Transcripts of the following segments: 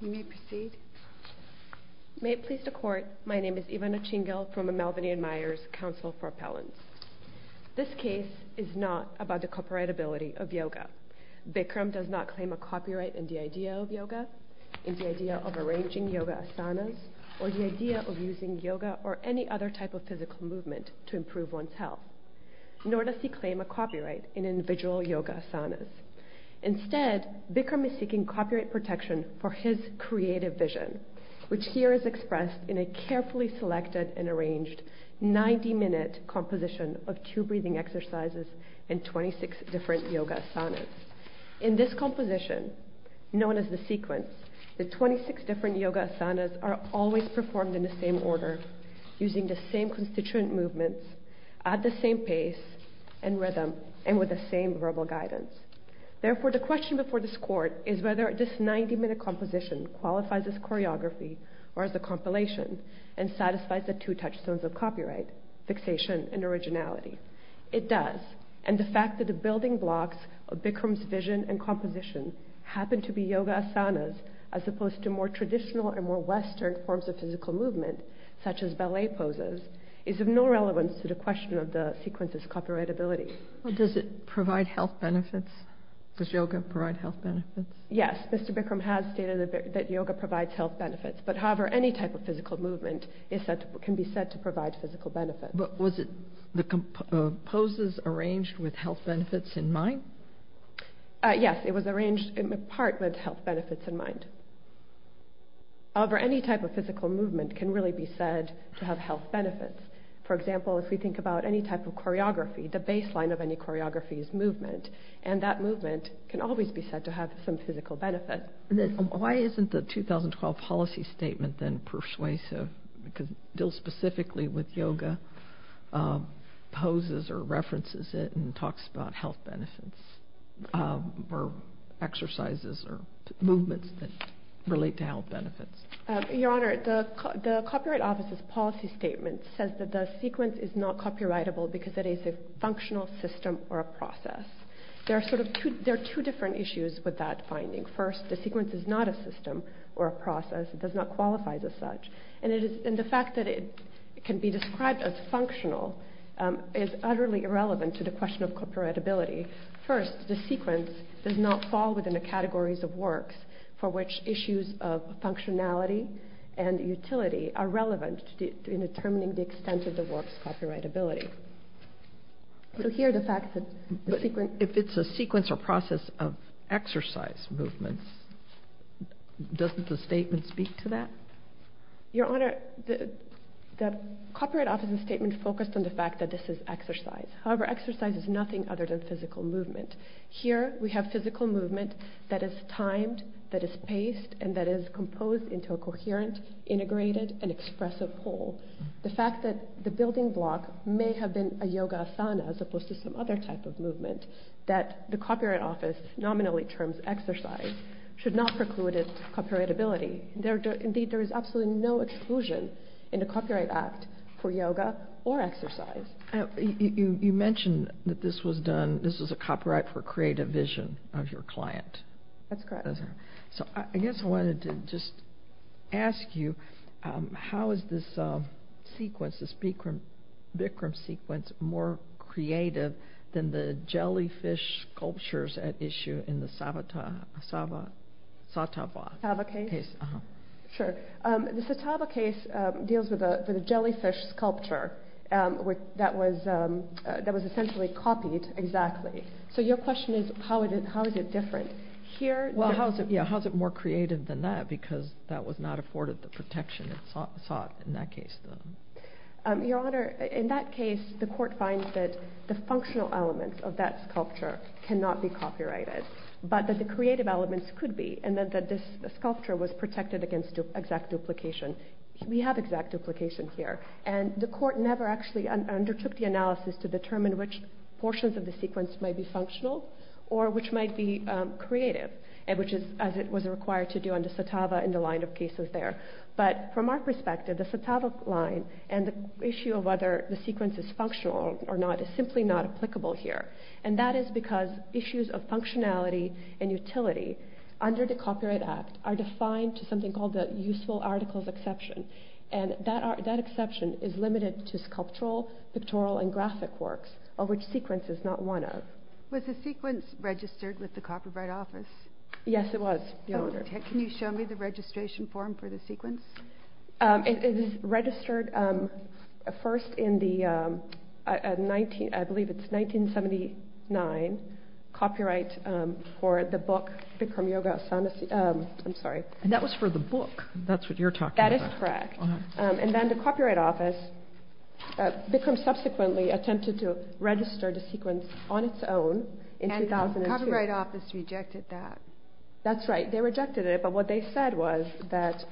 You may proceed. May it please the court, my name is Ivana Chingel from the Melvin A. Myers Council for Appellants. This case is not about the copyrightability of yoga. Bikram does not claim a copyright in the idea of yoga, in the idea of arranging yoga asanas, or the idea of using yoga or any other type of physical movement to improve one's health. Nor does he claim a copyright in visual yoga asanas. Instead, Bikram is seeking copyright protection for his creative vision, which here is expressed in a carefully selected and arranged 90-minute composition of two breathing exercises and 26 different yoga asanas. In this composition, known as the sequence, the 26 different yoga asanas are always performed in the same order, using the same constituent movements, at the same pace and rhythm, and with the same verbal guidance. Therefore, the question before this court is whether this 90-minute composition qualifies as choreography, or as a compilation, and satisfies the two touchstones of copyright, fixation and originality. It does, and the fact that the building blocks of Bikram's vision and composition happen to be yoga asanas, as opposed to more traditional and more Western forms of physical movement, such as ballet poses, is of no relevance to the question of the sequence's copyrightability. Does it provide health benefits? Does yoga provide health benefits? Yes, Mr. Bikram has stated that yoga provides health benefits, but however, any type of physical movement can be said to provide physical benefits. But was the poses arranged with health benefits in mind? Yes, it was arranged in part with health benefits in mind. However, any type of physical movement can really be said to have health benefits. For example, if we think about any type of choreography, the baseline of any choreography is movement, and that movement can always be said to have some physical benefit. Why isn't the 2012 policy statement then persuasive, because Dill specifically with yoga poses or references it and talks about health benefits, or exercises or relate to health benefits? Your Honor, the Copyright Office's policy statement says that the sequence is not copyrightable because it is a functional system or a process. There are two different issues with that finding. First, the sequence is not a system or a process. It does not qualify as such, and the fact that it can be described as functional is utterly irrelevant to the question of copyrightability. First, the sequence does not fall within the categories of works for which issues of functionality and utility are relevant in determining the extent of the work's copyrightability. So here the fact that the sequence... If it's a sequence or process of exercise movements, doesn't the statement speak to that? Your Honor, the Copyright Office's statement focused on the fact that this is exercise. However, exercise is nothing other than physical movement. Here we have physical movement that is timed, that is paced, and that is composed into a coherent, integrated, and expressive whole. The fact that the building block may have been a yoga asana as opposed to some other type of movement, that the Copyright Office nominally terms exercise, should not preclude its copyrightability. Indeed, there is absolutely no exclusion in a copyright act for yoga or exercise. You mentioned that this was a copyright for creative vision of your client. That's correct. So I guess I wanted to just ask you, how is this sequence, this Bikram sequence, more creative than the jellyfish sculptures at issue in the Satava case? Sure, the Satava case deals with a jellyfish sculpture that was essentially copied, exactly. So your question is, how is it different? Well, how is it more creative than that, because that was not afforded the protection it sought in that case? Your Honor, in that case, the court finds that the functional elements of that sculpture cannot be copyrighted, but that the creative elements could be, and that this sculpture was protected against exact duplication. We have exact duplication here, and the court never actually undertook the analysis to determine which portions of the sequence might be functional, or which might be creative, as it was required to do under Satava in the line of cases there. But from our perspective, the Satava line and the issue of whether the sequence is functional or not is simply not applicable here, and that is because issues of functionality and utility under the Copyright Act are defined to something called the Useful Articles Exception, and that exception is limited to sculptural, pictorial, and graphic works, of which sequence is not one of. Was the sequence registered with the Copyright Office? Yes, it was, Your Honor. Can you show me the registration form for the sequence? It is registered first in the, I believe it's 1979, copyright for the book I'm sorry. And that was for the book, that's what you're talking about. That is correct, and then the Copyright Office, Bikram subsequently attempted to register the sequence on its own in 2002. And the Copyright Office rejected that. That's right, they rejected it, but what they said was that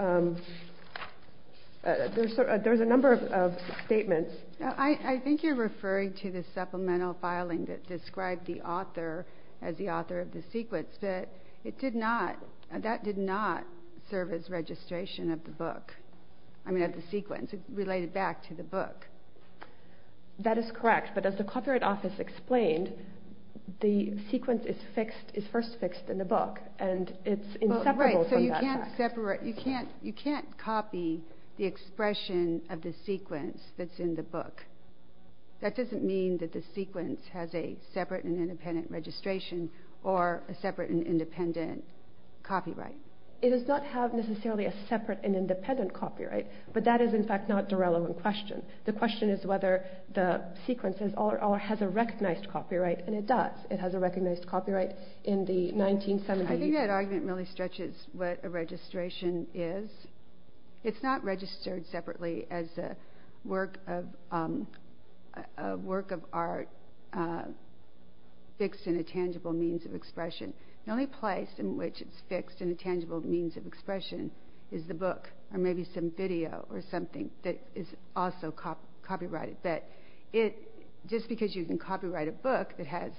there's a number of statements. I think you're referring to the supplemental filing that described the author as the author of the sequence, but it did not, that did not serve as registration of the book, I mean of the sequence, it related back to the book. That is correct, but as the Copyright Office explained, the sequence is fixed, is first fixed in the book, and it's inseparable from that. Right, so you can't separate, you can't, you can't copy the expression of the sequence that's in the book. That doesn't mean that the sequence has a separate and independent registration, or a separate and independent copyright. It does not have necessarily a separate and independent copyright, but that is in fact not the relevant question. The question is whether the sequence is, or has a recognized copyright, and it does. It has a recognized copyright in the 1970s. I think that argument really stretches what a registration is. It's not registered separately as a work of art fixed in a tangible means of expression. The only place in which it's fixed in a tangible means of expression is the book, or maybe some video or something that is also copyrighted, but it, just because you can copyright a book that has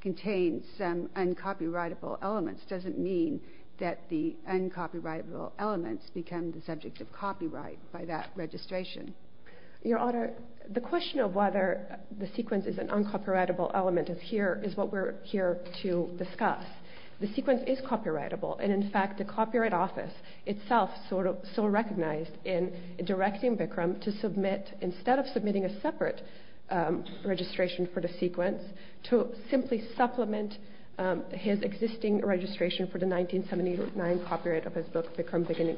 contained some uncopyrightable elements doesn't mean that the uncopyrightable elements become the subject of copyright by that the sequence is an uncopyrightable element of here, is what we're here to discuss. The sequence is copyrightable, and in fact the Copyright Office itself sort of, so recognized in directing Bikram to submit, instead of submitting a separate registration for the sequence, to simply supplement his existing registration for the 1979 copyright of his book, Bikram Beginning,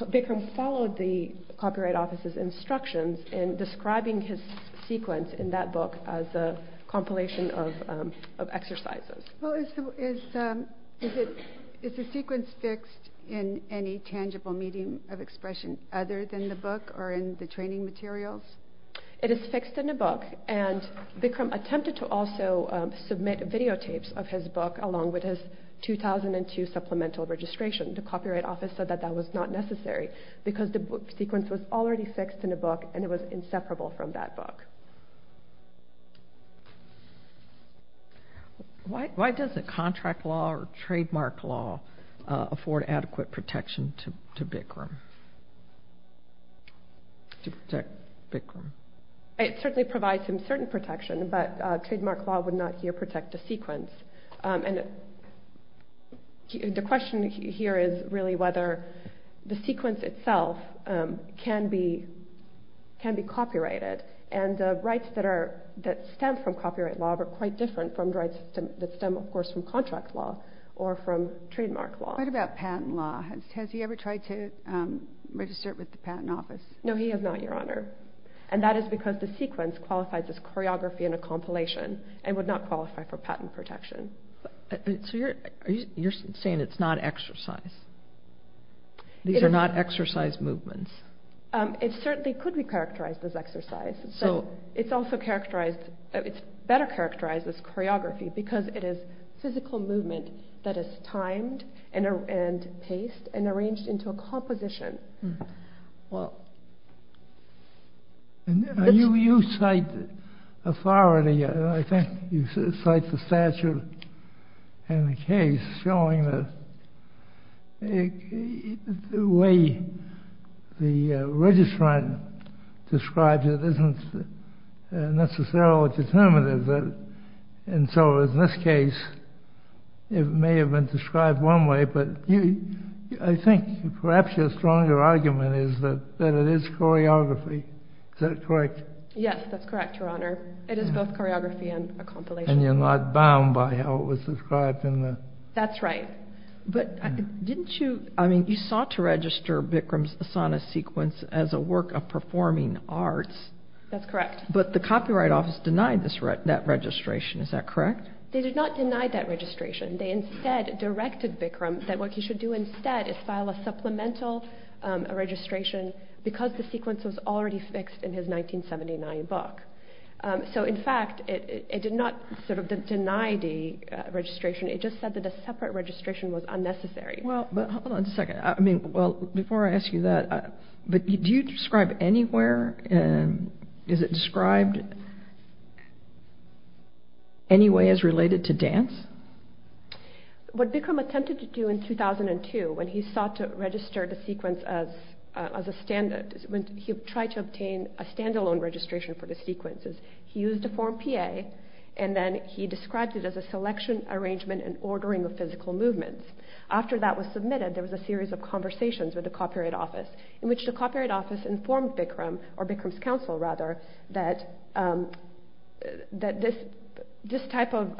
Bikram's followed the Copyright Office's instructions in describing his sequence in that book as a compilation of exercises. Is the sequence fixed in any tangible medium of expression other than the book or in the training materials? It is fixed in a book, and Bikram attempted to also submit videotapes of his book along with his 2002 supplemental registration. The Copyright Office said that that was not necessary, because the sequence was already fixed in a book and it was inseparable from that book. Why doesn't contract law or trademark law afford adequate protection to Bikram? It certainly provides some certain protection, but trademark law would not here protect a sequence, and the question here is really whether the sequence itself can be copyrighted, and rights that stem from copyright law are quite different from rights that stem, of course, from contract law or from trademark law. What about patent law? Has he ever tried to register it with the Patent Office? No, he has not, Your Honor, and that is because the sequence qualifies as choreography in a compilation and would not qualify for patent protection. So you're saying it's not exercise? These are not exercise movements? It certainly could be characterized as exercise, so it's also characterized, it's better characterized as choreography, because it is physical movement that is timed and paced and arranged into a composition. You cite authority, I think you cite the statute in the case showing that the way the registrant describes it isn't necessarily determinative, and so in this case it may have been described one way, but I think perhaps you're stronger argument is that it is choreography, is that correct? Yes, that's correct, Your Honor, it is both choreography and a compilation. And you're not bound by how it was described? That's right. But didn't you, I mean, you sought to register Bikram's Asana sequence as a work of performing arts. That's correct. But the Copyright Office denied that registration, is that correct? They did not deny that registration, they instead directed Bikram that what he should do instead is have a supplemental registration, because the sequence was already fixed in his 1979 book. So in fact, it did not sort of deny the registration, it just said that a separate registration was unnecessary. Well, but hold on a second, I mean, well, before I ask you that, but do you describe anywhere, and is it described any way as related to dance? What Bikram attempted to do in 2002, when he sought to register the sequence as a standard, when he tried to obtain a standalone registration for the sequences, he used a form PA, and then he described it as a selection, arrangement, and ordering of physical movements. After that was submitted, there was a series of conversations with the Copyright Office, in which the Copyright Office informed Bikram, or Bikram's counsel rather, that this type of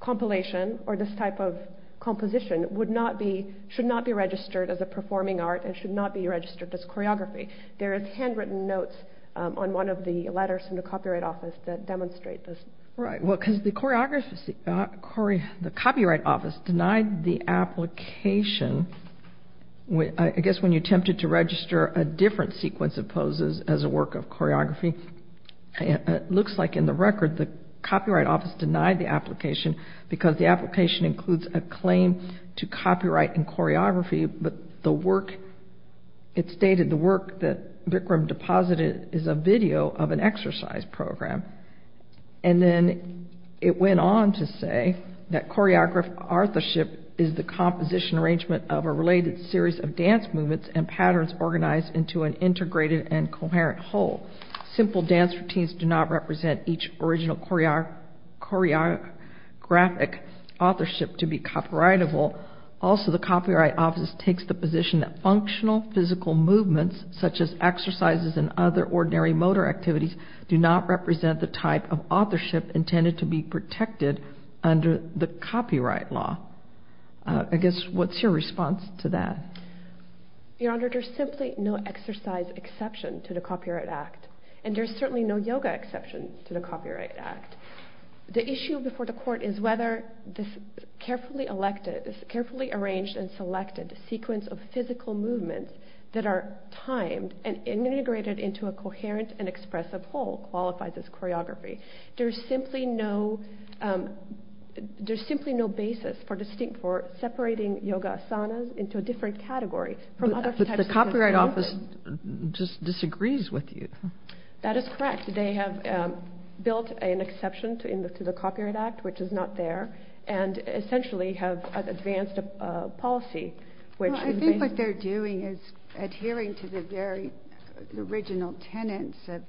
compilation, or this type of composition, would not be, should not be registered as a performing art, and should not be registered as choreography. There are handwritten notes on one of the letters from the Copyright Office that demonstrate this. Right, well, because the Copyright Office denied the application, I guess when you attempted to register a different sequence of poses as a work of choreography, it looks like in the record the Copyright Office denied the choreography, but it stated the work that Bikram deposited is a video of an exercise program. And then it went on to say that choreographorship is the composition arrangement of a related series of dance movements and patterns organized into an integrated and coherent whole. Simple dance routines do not represent each original choreographic authorship to be copyrightable. Also, the Copyright Office takes the position that functional physical movements, such as exercises and other ordinary motor activities, do not represent the type of authorship intended to be protected under the copyright law. I guess, what's your response to that? Your Honor, there's simply no exercise exception to the Copyright Act, and there's certainly no yoga exception to the Copyright Act. The issue before the court is whether this carefully arranged and selected sequence of physical movements that are timed and integrated into a coherent and expressive whole qualifies as choreography. There's simply no basis for separating yoga asanas into a different category. But the Copyright Office just disagrees with you. That is correct. They have built an exception to the Copyright Act, but they don't necessarily have advanced a policy. I think what they're doing is adhering to the very original tenets of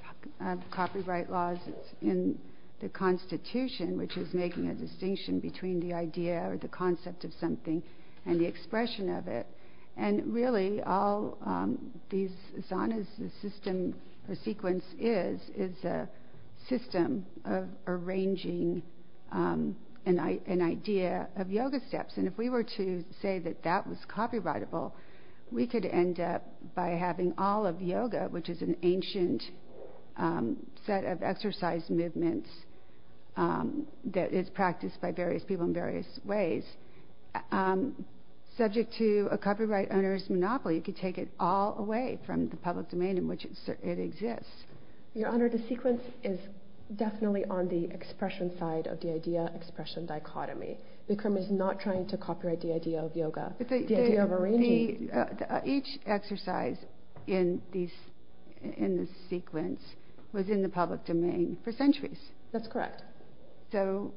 copyright laws in the Constitution, which is making a distinction between the idea or the concept of something and the expression of it. And really, all these asanas, the system, the sequence is, is a system of yoga steps. And if we were to say that that was copyrightable, we could end up by having all of yoga, which is an ancient set of exercise movements that is practiced by various people in various ways, subject to a copyright owner's monopoly. You could take it all away from the public domain in which it exists. Your Honor, the sequence is definitely on the expression side of the idea-expression dichotomy. Bikram is not trying to copyright the idea of yoga. Each exercise in this sequence was in the public domain for centuries. That's correct. So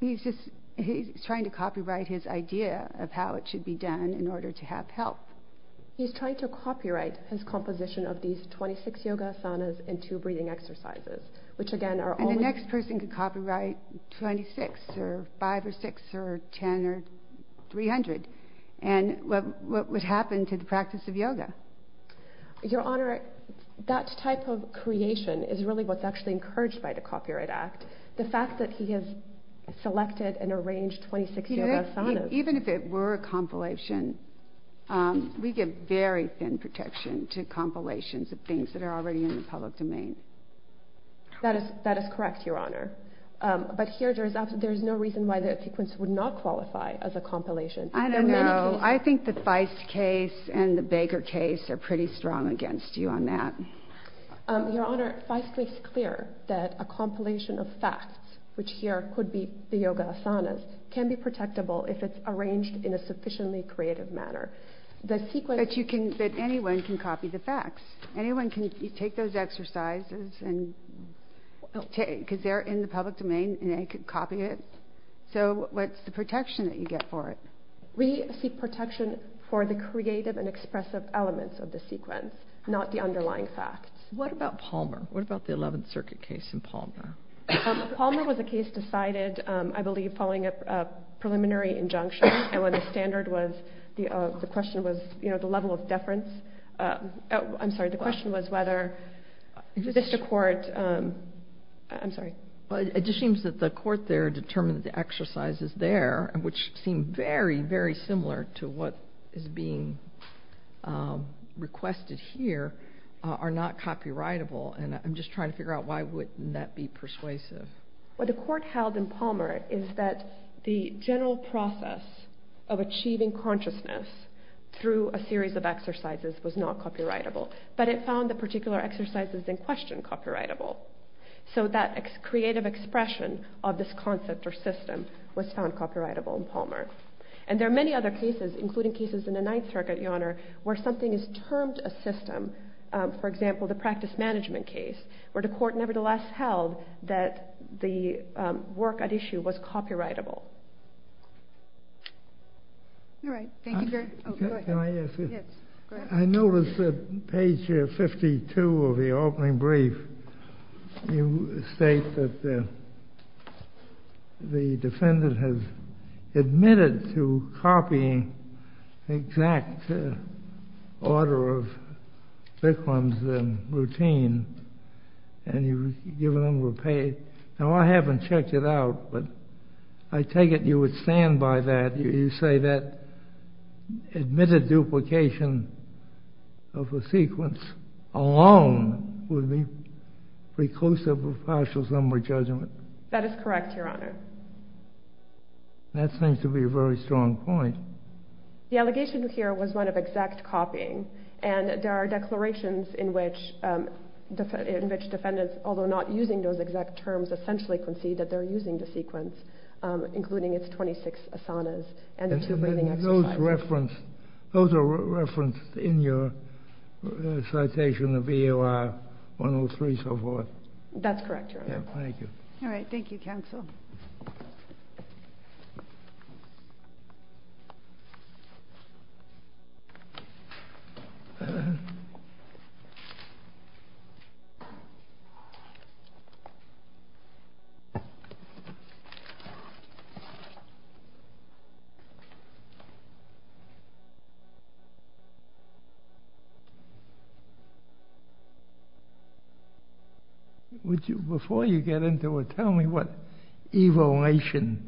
he's just, he's trying to copyright his idea of how it should be done in order to have help. He's trying to copyright his composition of these 26 yoga asanas and two breathing exercises, which again are only... 6 or 5 or 6 or 10 or 300. And what would happen to the practice of yoga? Your Honor, that type of creation is really what's actually encouraged by the Copyright Act. The fact that he has selected and arranged 26 yoga asanas. Even if it were a compilation, we give very thin protection to compilations of things that are already in the public domain. That is, that is correct, Your Honor. But here there's no reason why the sequence would not qualify as a compilation. I don't know. I think the Feist case and the Baker case are pretty strong against you on that. Your Honor, Feist makes clear that a compilation of facts, which here could be the yoga asanas, can be protectable if it's arranged in a sufficiently creative manner. The sequence... But anyone can copy the facts. Anyone can take those exercises and, because they're in the public domain, anyone can copy it. So what's the protection that you get for it? We seek protection for the creative and expressive elements of the sequence, not the underlying facts. What about Palmer? What about the 11th Circuit case in Palmer? Palmer was a case decided, I believe, following a preliminary injunction. And when the standard was... the question was, you know, the level of seems that the court there determined that the exercises there, which seem very, very similar to what is being requested here, are not copyrightable. And I'm just trying to figure out why wouldn't that be persuasive? What the court held in Palmer is that the general process of achieving consciousness through a series of exercises was not copyrightable. But it found the particular exercises in question copyrightable. So that creative expression of this concept or system was found copyrightable in Palmer. And there are many other cases, including cases in the 9th Circuit, Your Honor, where something is termed a system. For example, the practice management case, where the court nevertheless held that the work at issue was copyrightable. All right. Thank you, Your Honor. Can I ask you? Yes. Go ahead. I noticed that page 52 of the opening brief, you state that the defendant has admitted to copying the exact order of victims and routine. And you've given them repaid. Now, I haven't checked it out, but I take it you would stand by that. You say that admitted duplication of a sequence alone would be preclusive of partial summary judgment. That is correct, Your Honor. That seems to be a very strong point. The allegation here was one of exact copying. And there are declarations in which defendants, although not using those exact terms, essentially concede that they're using the sequence, including its 26 asanas and the two breathing exercises. Those are referenced in your citation of EOR 103 so forth. That's correct, Your Honor. Thank you. All right. Thank you, counsel. Before you get into it, tell me what evaluation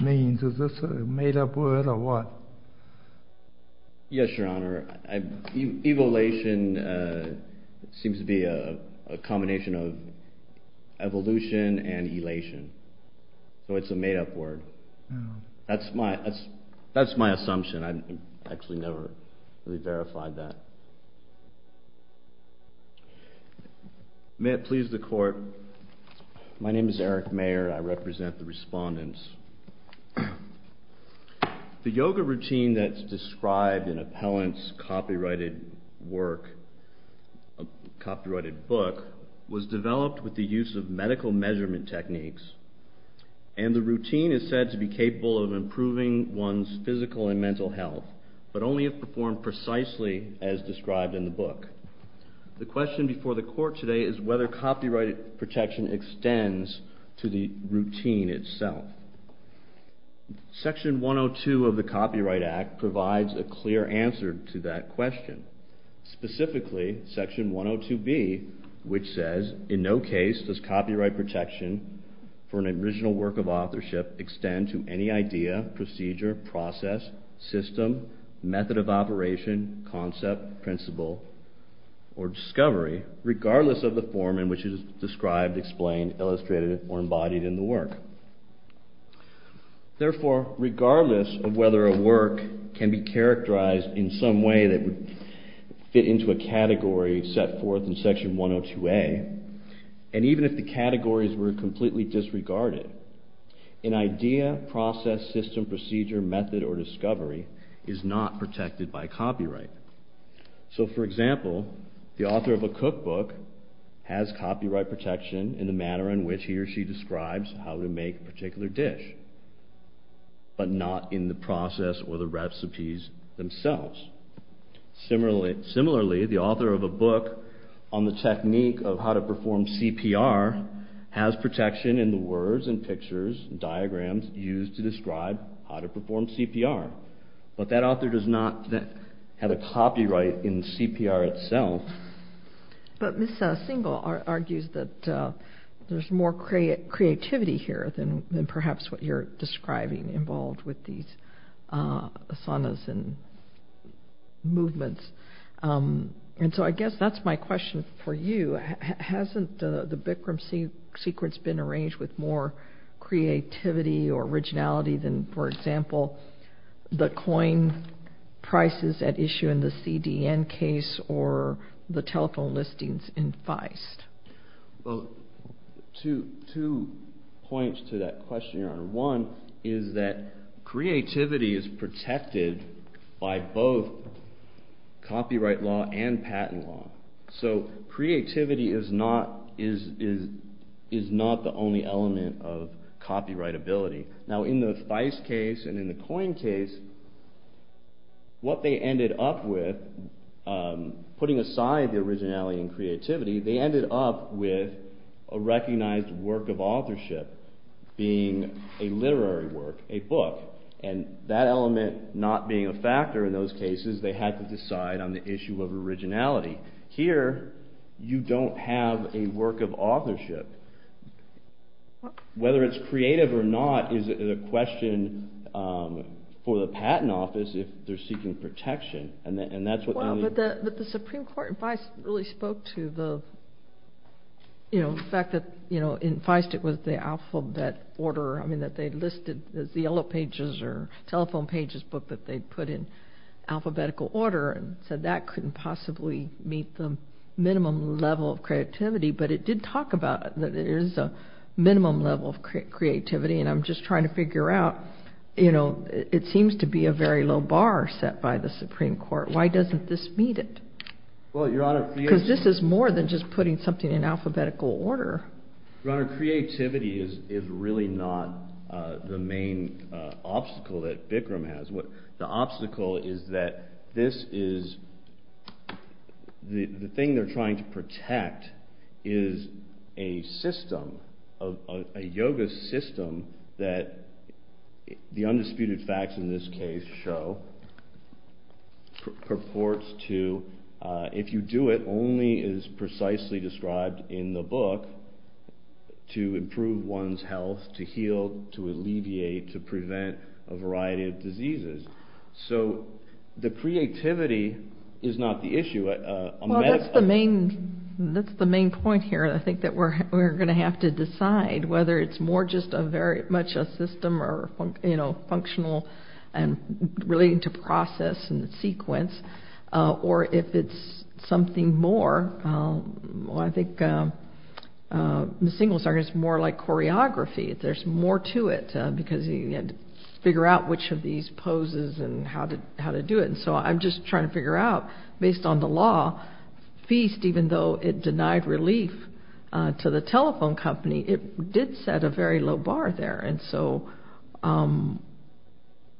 means. Is this a made-up word or what? Yes, Your Honor. Evaluation seems to be a combination of evolution and elation. So it's a made-up word. That's my assumption. I've actually never really verified that. May it please the Court, my name is Eric Mayer. I represent the respondents. The yoga routine that's described in appellant's copyrighted work, copyrighted book, was developed with the use of medical measurement techniques. And the routine is said to be capable of improving one's physical and mental health, but only if performed precisely as described in the book. The question before the Court today is whether copyrighted protection extends to the routine itself. Section 102 of the Copyright Act provides a clear answer to that question. Specifically, Section 102B, which says, In no case does copyright protection for an original work of authorship extend to any idea, procedure, process, system, method of operation, concept, principle, or discovery, regardless of the form in which it is described explained, illustrated, or embodied in the work. Therefore, regardless of whether a work can be characterized in some way that would fit into a category set forth in Section 102A, and even if the categories were completely disregarded, an idea, process, system, procedure, method, or discovery is not protected by copyright. So, for example, the author of a cookbook has copyright protection in the manner in which he or she describes how to make a particular dish, but not in the process or the recipes themselves. Similarly, the author of a book on the technique of how to perform CPR has protection in the words and pictures and diagrams used to describe how to perform CPR. But that author does not have a copyright in CPR itself. But Ms. Singal argues that there's more creativity here than perhaps what you're describing involved with these asanas and movements. And so I guess that's my question for you. Hasn't the Bikram sequence been arranged with more creativity or originality than, for example, the coin prices at issue in the CDN case or the telephone listings in Feist? Well, two points to that question, Your Honor. One is that creativity is protected by both copyright law and patent law. So creativity is not the only element of copyrightability. Now in the Feist case and in the coin case, what they ended up with, putting aside the originality and creativity, they ended up with a recognized work of authorship being a literary work, a book. And that element not being a factor in those cases, they had to decide on the issue of originality. Here, you don't have a work of authorship. Whether it's creative or not is a question for the patent office if they're seeking protection, and that's what they need. But the Supreme Court in Feist really spoke to the fact that in Feist it was the alphabet order that they listed as the yellow pages or telephone pages book that they put in alphabetical order and said that couldn't possibly meet the minimum level of creativity. But it did talk about that there is a minimum level of creativity, and I'm just trying to figure out, you know, it seems to be a very low bar set by the Supreme Court. Why doesn't this meet it? Because this is more than just putting something in alphabetical order. Your Honor, creativity is really not the main obstacle that Bikram has. The obstacle is that this is, the thing they're trying to protect is a system, a yoga system that the undisputed facts in this case show purports to, if you do it, only is precisely described in the book to improve one's health, to heal, to alleviate, to prevent a variety of diseases. So the creativity is not the issue. That's the main point here, and I think that we're going to have to decide whether it's more just very much a system or functional and relating to process and sequence, or if it's something more. Well, I think the single circuit is more like choreography. There's more to it because you have to figure out which of these poses and how to do it. And so I'm just trying to figure out, based on the law, FEAST, even though it denied relief to the telephone company, it did set a very low bar there. And so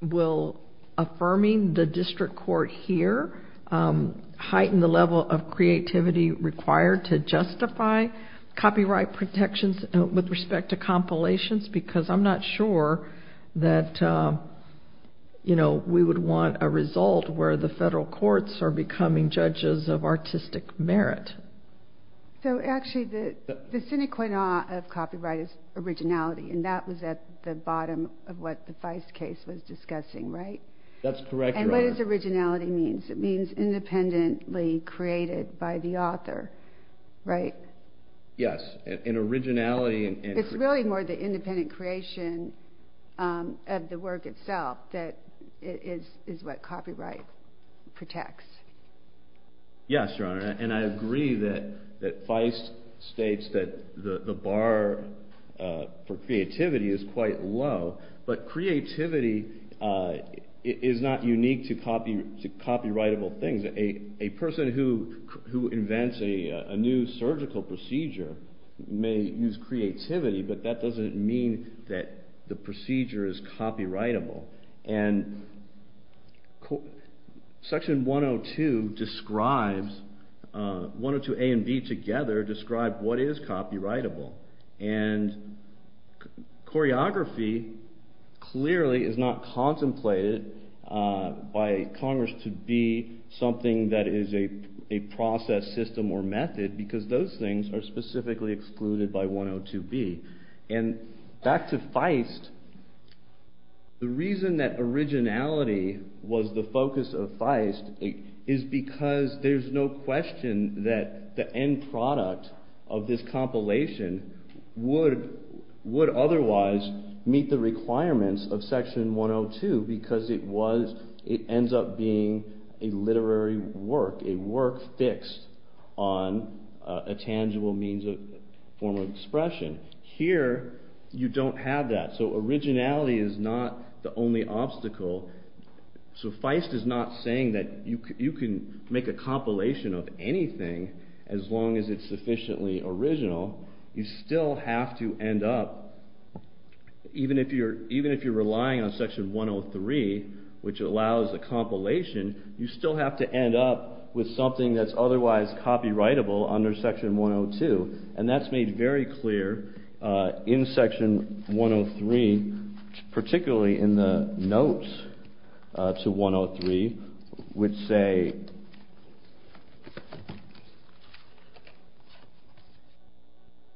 will affirming the district court here heighten the level of creativity required to justify copyright protections with respect to compilations? Because I'm not sure that we would want a result where the federal courts are becoming judges of artistic merit. So actually the sine qua non of copyright is originality, and that was at the bottom of what the Feist case was discussing, right? That's correct, Your Honor. And what does originality mean? It means independently created by the author, right? Yes, and originality... It's really more the independent creation of the work itself that is what copyright protects. Yes, Your Honor, and I agree that Feist states that the bar for creativity is quite low, but creativity is not unique to copyrightable things. A person who invents a new surgical procedure may use creativity, but that doesn't mean that the procedure is copyrightable. And Section 102 describes... 102A and 102B together describe what is copyrightable. And choreography clearly is not contemplated by Congress to be something that is a process, system, or method because those things are specifically excluded by 102B. And back to Feist, the reason that originality was the focus of Feist is because there's no question that the end product of this compilation would otherwise meet the requirements of Section 102 because it ends up being a literary work, a work fixed on a tangible means of form of expression. Here, you don't have that, so originality is not the only obstacle. So Feist is not saying that you can make a compilation of anything as long as it's sufficiently original. You still have to end up... Even if you're relying on Section 103, which allows a compilation, you still have to end up with something that's otherwise copyrightable under Section 102, and that's made very clear in Section 103, particularly in the notes to 103, which say...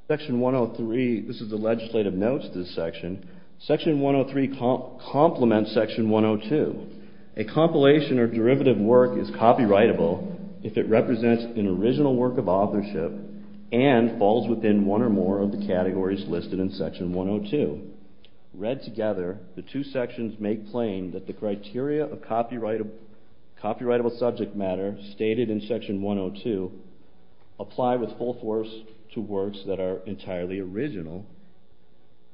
Section 103... This is the legislative notes to this section. Section 103 complements Section 102. A compilation or derivative work is copyrightable if it represents an original work of authorship and falls within one or more of the categories listed in Section 102. Read together, the two sections make plain that the criteria of copyrightable subject matter stated in Section 102 apply with full force to works that are entirely original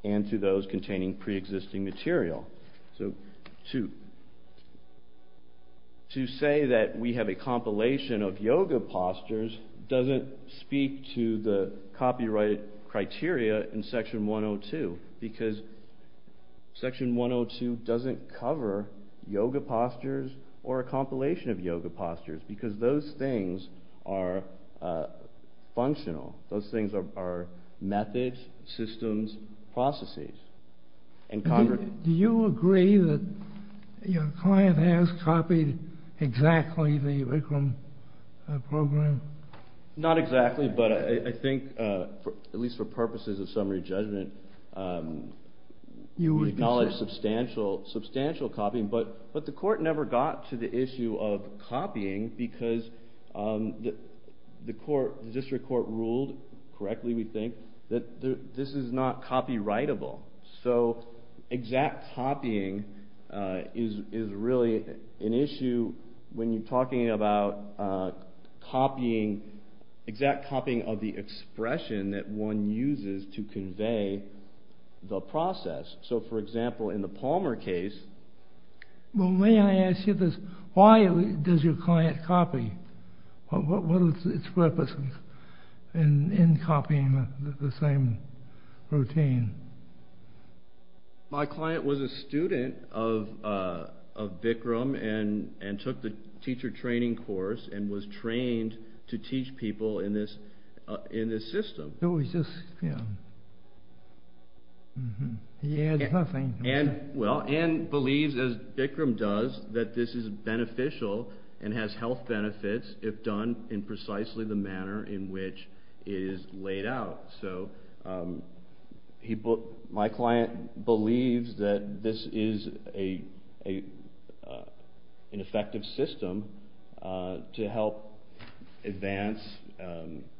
and to those containing pre-existing material. So to... To say that we have a compilation of yoga postures doesn't speak to the copyright criteria in Section 102 because Section 102 doesn't cover yoga postures or a compilation of yoga postures because those things are functional. Those things are methods, systems, processes. And... Do you agree that your client has copied exactly the Vikram program? Not exactly, but I think, at least for purposes of summary judgment, we acknowledge substantial copying, but the court never got to the issue of copying because the court, the district court, ruled correctly, we think, that this is not copyrightable. So exact copying is really an issue when you're talking about copying, exact copying of the expression that one uses to convey the process. So, for example, in the Palmer case... Well, may I ask you this? Why does your client copy? What is its purpose in copying the same routine? My client was a student of Vikram and took the teacher training course and was trained to teach people in this system. And believes, as Vikram does, that this is beneficial and has health benefits if done in precisely the manner in which it is laid out. So my client believes that this is an effective system to help advance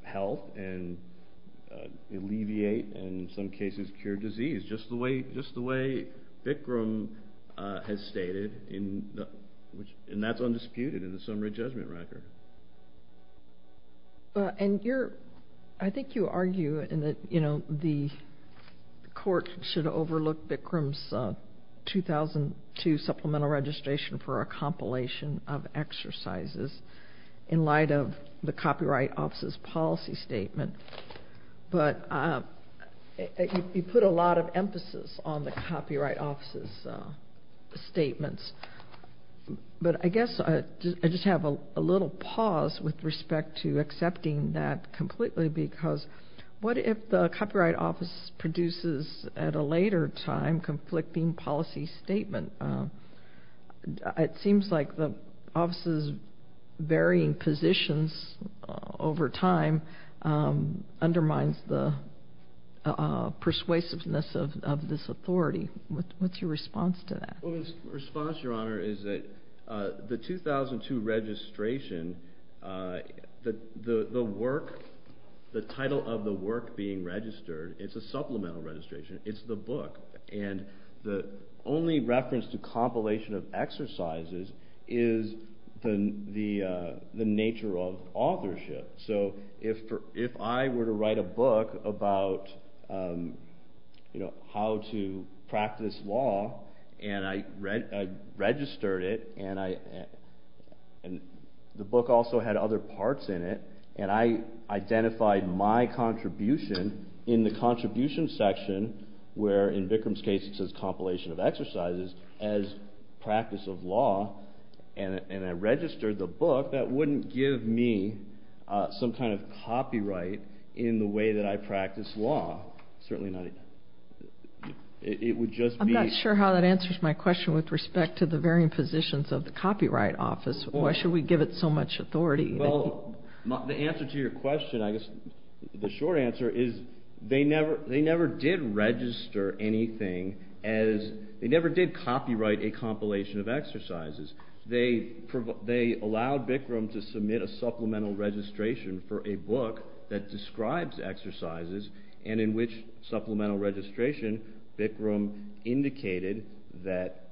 health and alleviate and, in some cases, cure disease, just the way Vikram has stated, and that's undisputed in the summary judgment record. And I think you argue that the court should overlook Vikram's 2002 supplemental registration for a compilation of exercises in light of the Copyright Office's policy statement, but you put a lot of emphasis on the Copyright Office's statements. But I guess I just have a little pause with respect to accepting that completely because what if the Copyright Office produces at a later time conflicting policy statement? It seems like the Office's varying positions over time undermines the persuasiveness of this authority. What's your response to that? My response, Your Honor, is that the 2002 registration, the work, the title of the work being registered, it's a supplemental registration, it's the book, and the only reference to compilation of exercises is the nature of authorship. So if I were to write a book about how to practice law and I registered it and the book also had other parts in it and I identified my contribution in the contribution section where in Vikram's case it says compilation of exercises as practice of law and I registered the book, that wouldn't give me some kind of copyright in the way that I practice law. It would just be... I'm not sure how that answers my question with respect to the varying positions of the Copyright Office. Why should we give it so much authority? Well, the answer to your question, I guess, the short answer is they never did register anything as... they never did copyright a compilation of exercises. They allowed Vikram to submit a supplemental registration for a book that describes exercises and in which supplemental registration, Vikram indicated that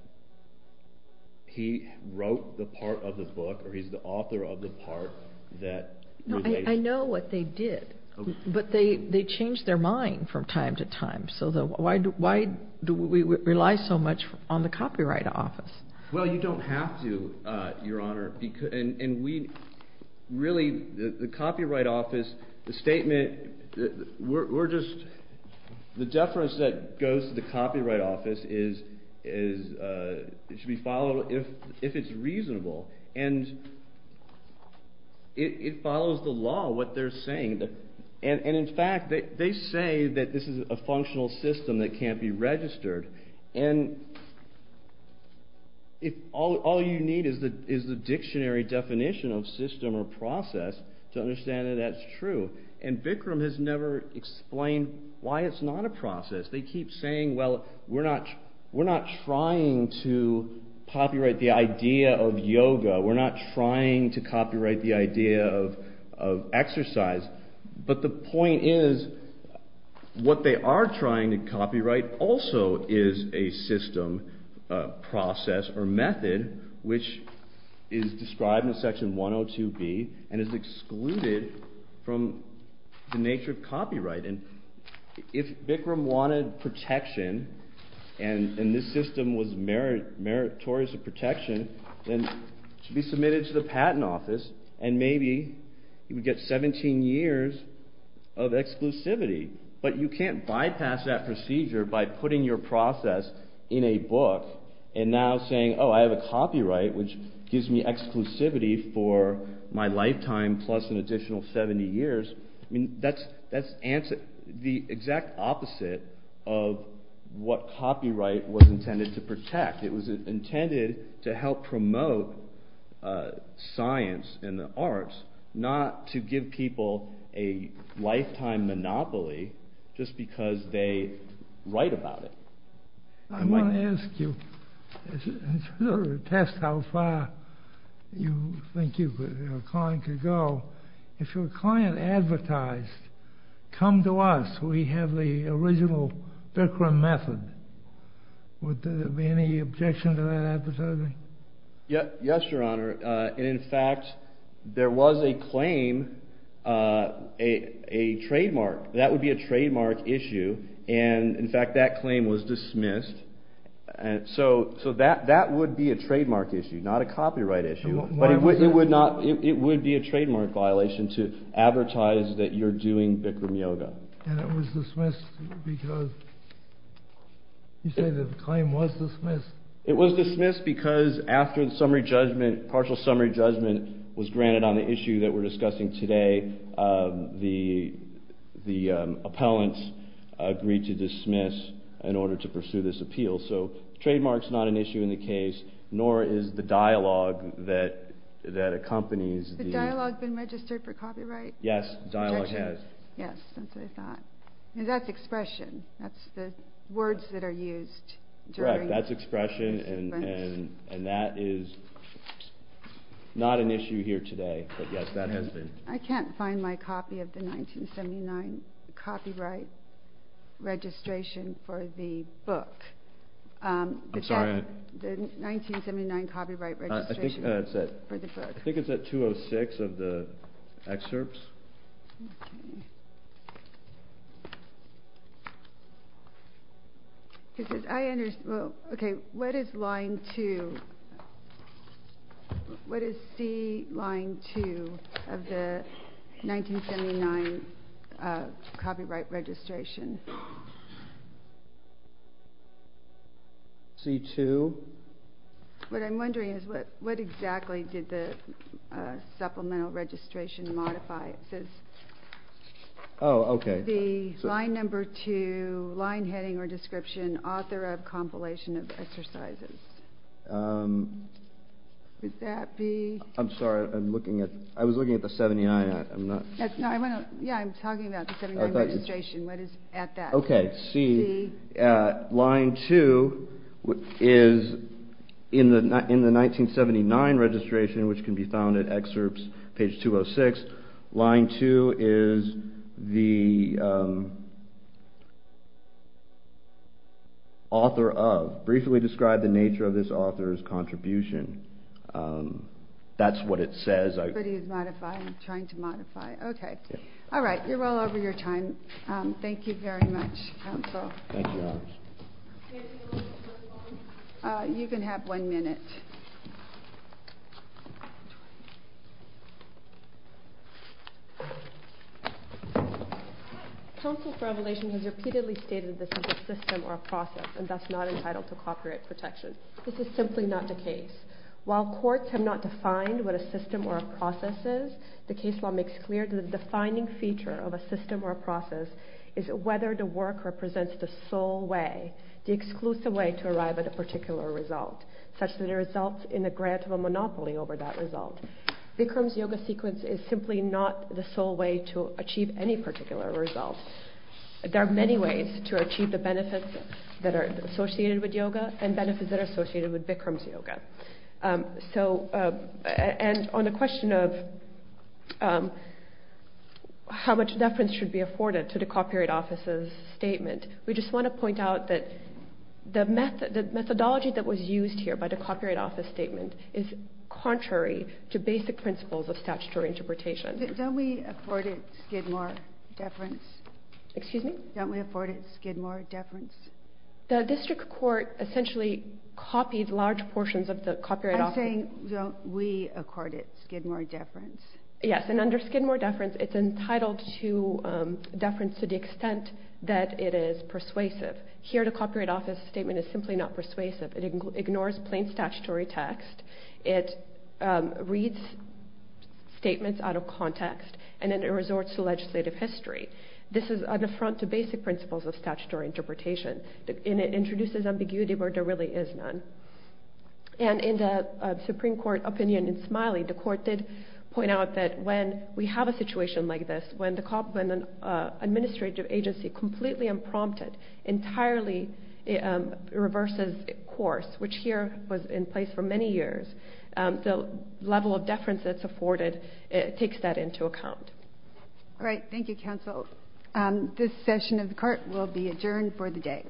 he wrote the part of the book or he's the author of the part that relates... No, I know what they did, but they changed their mind from time to time. So why do we rely so much on the Copyright Office? Well, you don't have to, Your Honor, and we really, the Copyright Office, the statement, we're just... the deference that goes to the Copyright Office should be followed if it's reasonable and it follows the law, what they're saying. And in fact, they say that this is a functional system that can't be registered and all you need is the dictionary definition of system or process to understand that that's true and Vikram has never explained why it's not a process. They keep saying, well, we're not trying to of yoga, we're not trying to copyright the idea of exercise, but the point is what they are trying to copyright also is a system, process, or method which is described in Section 102B and is excluded from the nature of copyright. If Vikram wanted protection and this system was meritorious to protection, then it should be submitted to the Patent Office and maybe he would get 17 years of exclusivity. But you can't bypass that procedure by putting your process in a book and now saying, oh, I have a copyright which gives me exclusivity for my lifetime plus an additional 70 years. I mean, that's the exact opposite of what copyright was intended to protect. It was intended to help promote science and the arts not to give people a lifetime monopoly just because they write about it. I want to ask you, to test how far you think your client could go, if your client advertised, come to us, we have the original Vikram method, would there be any objection to that advertising? Yes, Your Honor. In fact, there was a claim, a trademark, that would be a trademark issue and in fact that claim was dismissed. So that would be a trademark issue, not a copyright issue, but it would be a trademark violation to advertise that you're doing Vikram yoga. And it was dismissed because, you say the claim was dismissed? It was dismissed because after the summary judgment, partial summary judgment was granted on the issue that we're discussing today, the appellants agreed to dismiss in order to pursue this appeal. So trademark's not an issue in the case, nor is the dialogue that accompanies the... Has the dialogue been registered for copyright? Yes, dialogue has. Yes, that's what I thought. And that's expression, that's the words that are used during... Correct, that's expression and that is not an issue here today, but yes, that has been. I can't find my copy of the 1979 copyright registration for the book. I'm sorry? The 1979 copyright registration for the book. I think it's at 206 of the excerpts. I understand. Okay, what is line two? What is line two of the 1979 copyright registration? C2. What I'm wondering is what exactly did the supplemental registration modify? It says... Oh, okay. The line number two, line heading or description, author of compilation of exercises. Would that be... I'm sorry, I'm looking at... I was looking at the 79, I'm not... Yeah, I'm talking about the 79 registration. What is at that? Okay, C. C. Line two is in the 1979 registration, which can be found at excerpts, page 206. Line two is the author of. Briefly describe the nature of this author's contribution. That's what it says. But he's modifying, trying to modify. Okay. All right, you're well over your time. Thank you very much, counsel. Thank you, Your Honor. You can have one minute. Counsel for revelations has repeatedly stated this is a system or a process and thus not entitled to copyright protection. This is simply not the case. While courts have not defined what a system or a process is, of a system or a process is whether the work represents the sole way, the exclusive way to arrive at a particular result, such that it results in the grant of a monopoly over that result. Vikram's yoga sequence is simply not the sole way to achieve any particular result. There are many ways to achieve the benefits that are associated with yoga and benefits that are associated with Vikram's yoga. And on the question of how much deference should be afforded to the Copyright Office's statement, we just want to point out that the methodology that was used here by the Copyright Office's statement is contrary to basic principles of statutory interpretation. Don't we afford it Skidmore deference? Excuse me? Don't we afford it Skidmore deference? The District Court essentially copied large portions of the Copyright Office... I'm saying don't we accord it Skidmore deference? Yes, and under Skidmore deference, it's entitled to deference to the extent that it is persuasive. Here the Copyright Office's statement is simply not persuasive. It ignores plain statutory text. It reads statements out of context and then it resorts to legislative history. This is an affront to basic principles of statutory interpretation and it introduces ambiguity where there really is none. And in the Supreme Court opinion in Smiley, the Court did point out that when we have a situation like this, when an administrative agency completely unprompted entirely reverses course, which here was in place for many years, the level of deference that's afforded takes that into account. All right. Thank you, Counsel. This session of the Court will be adjourned for the day.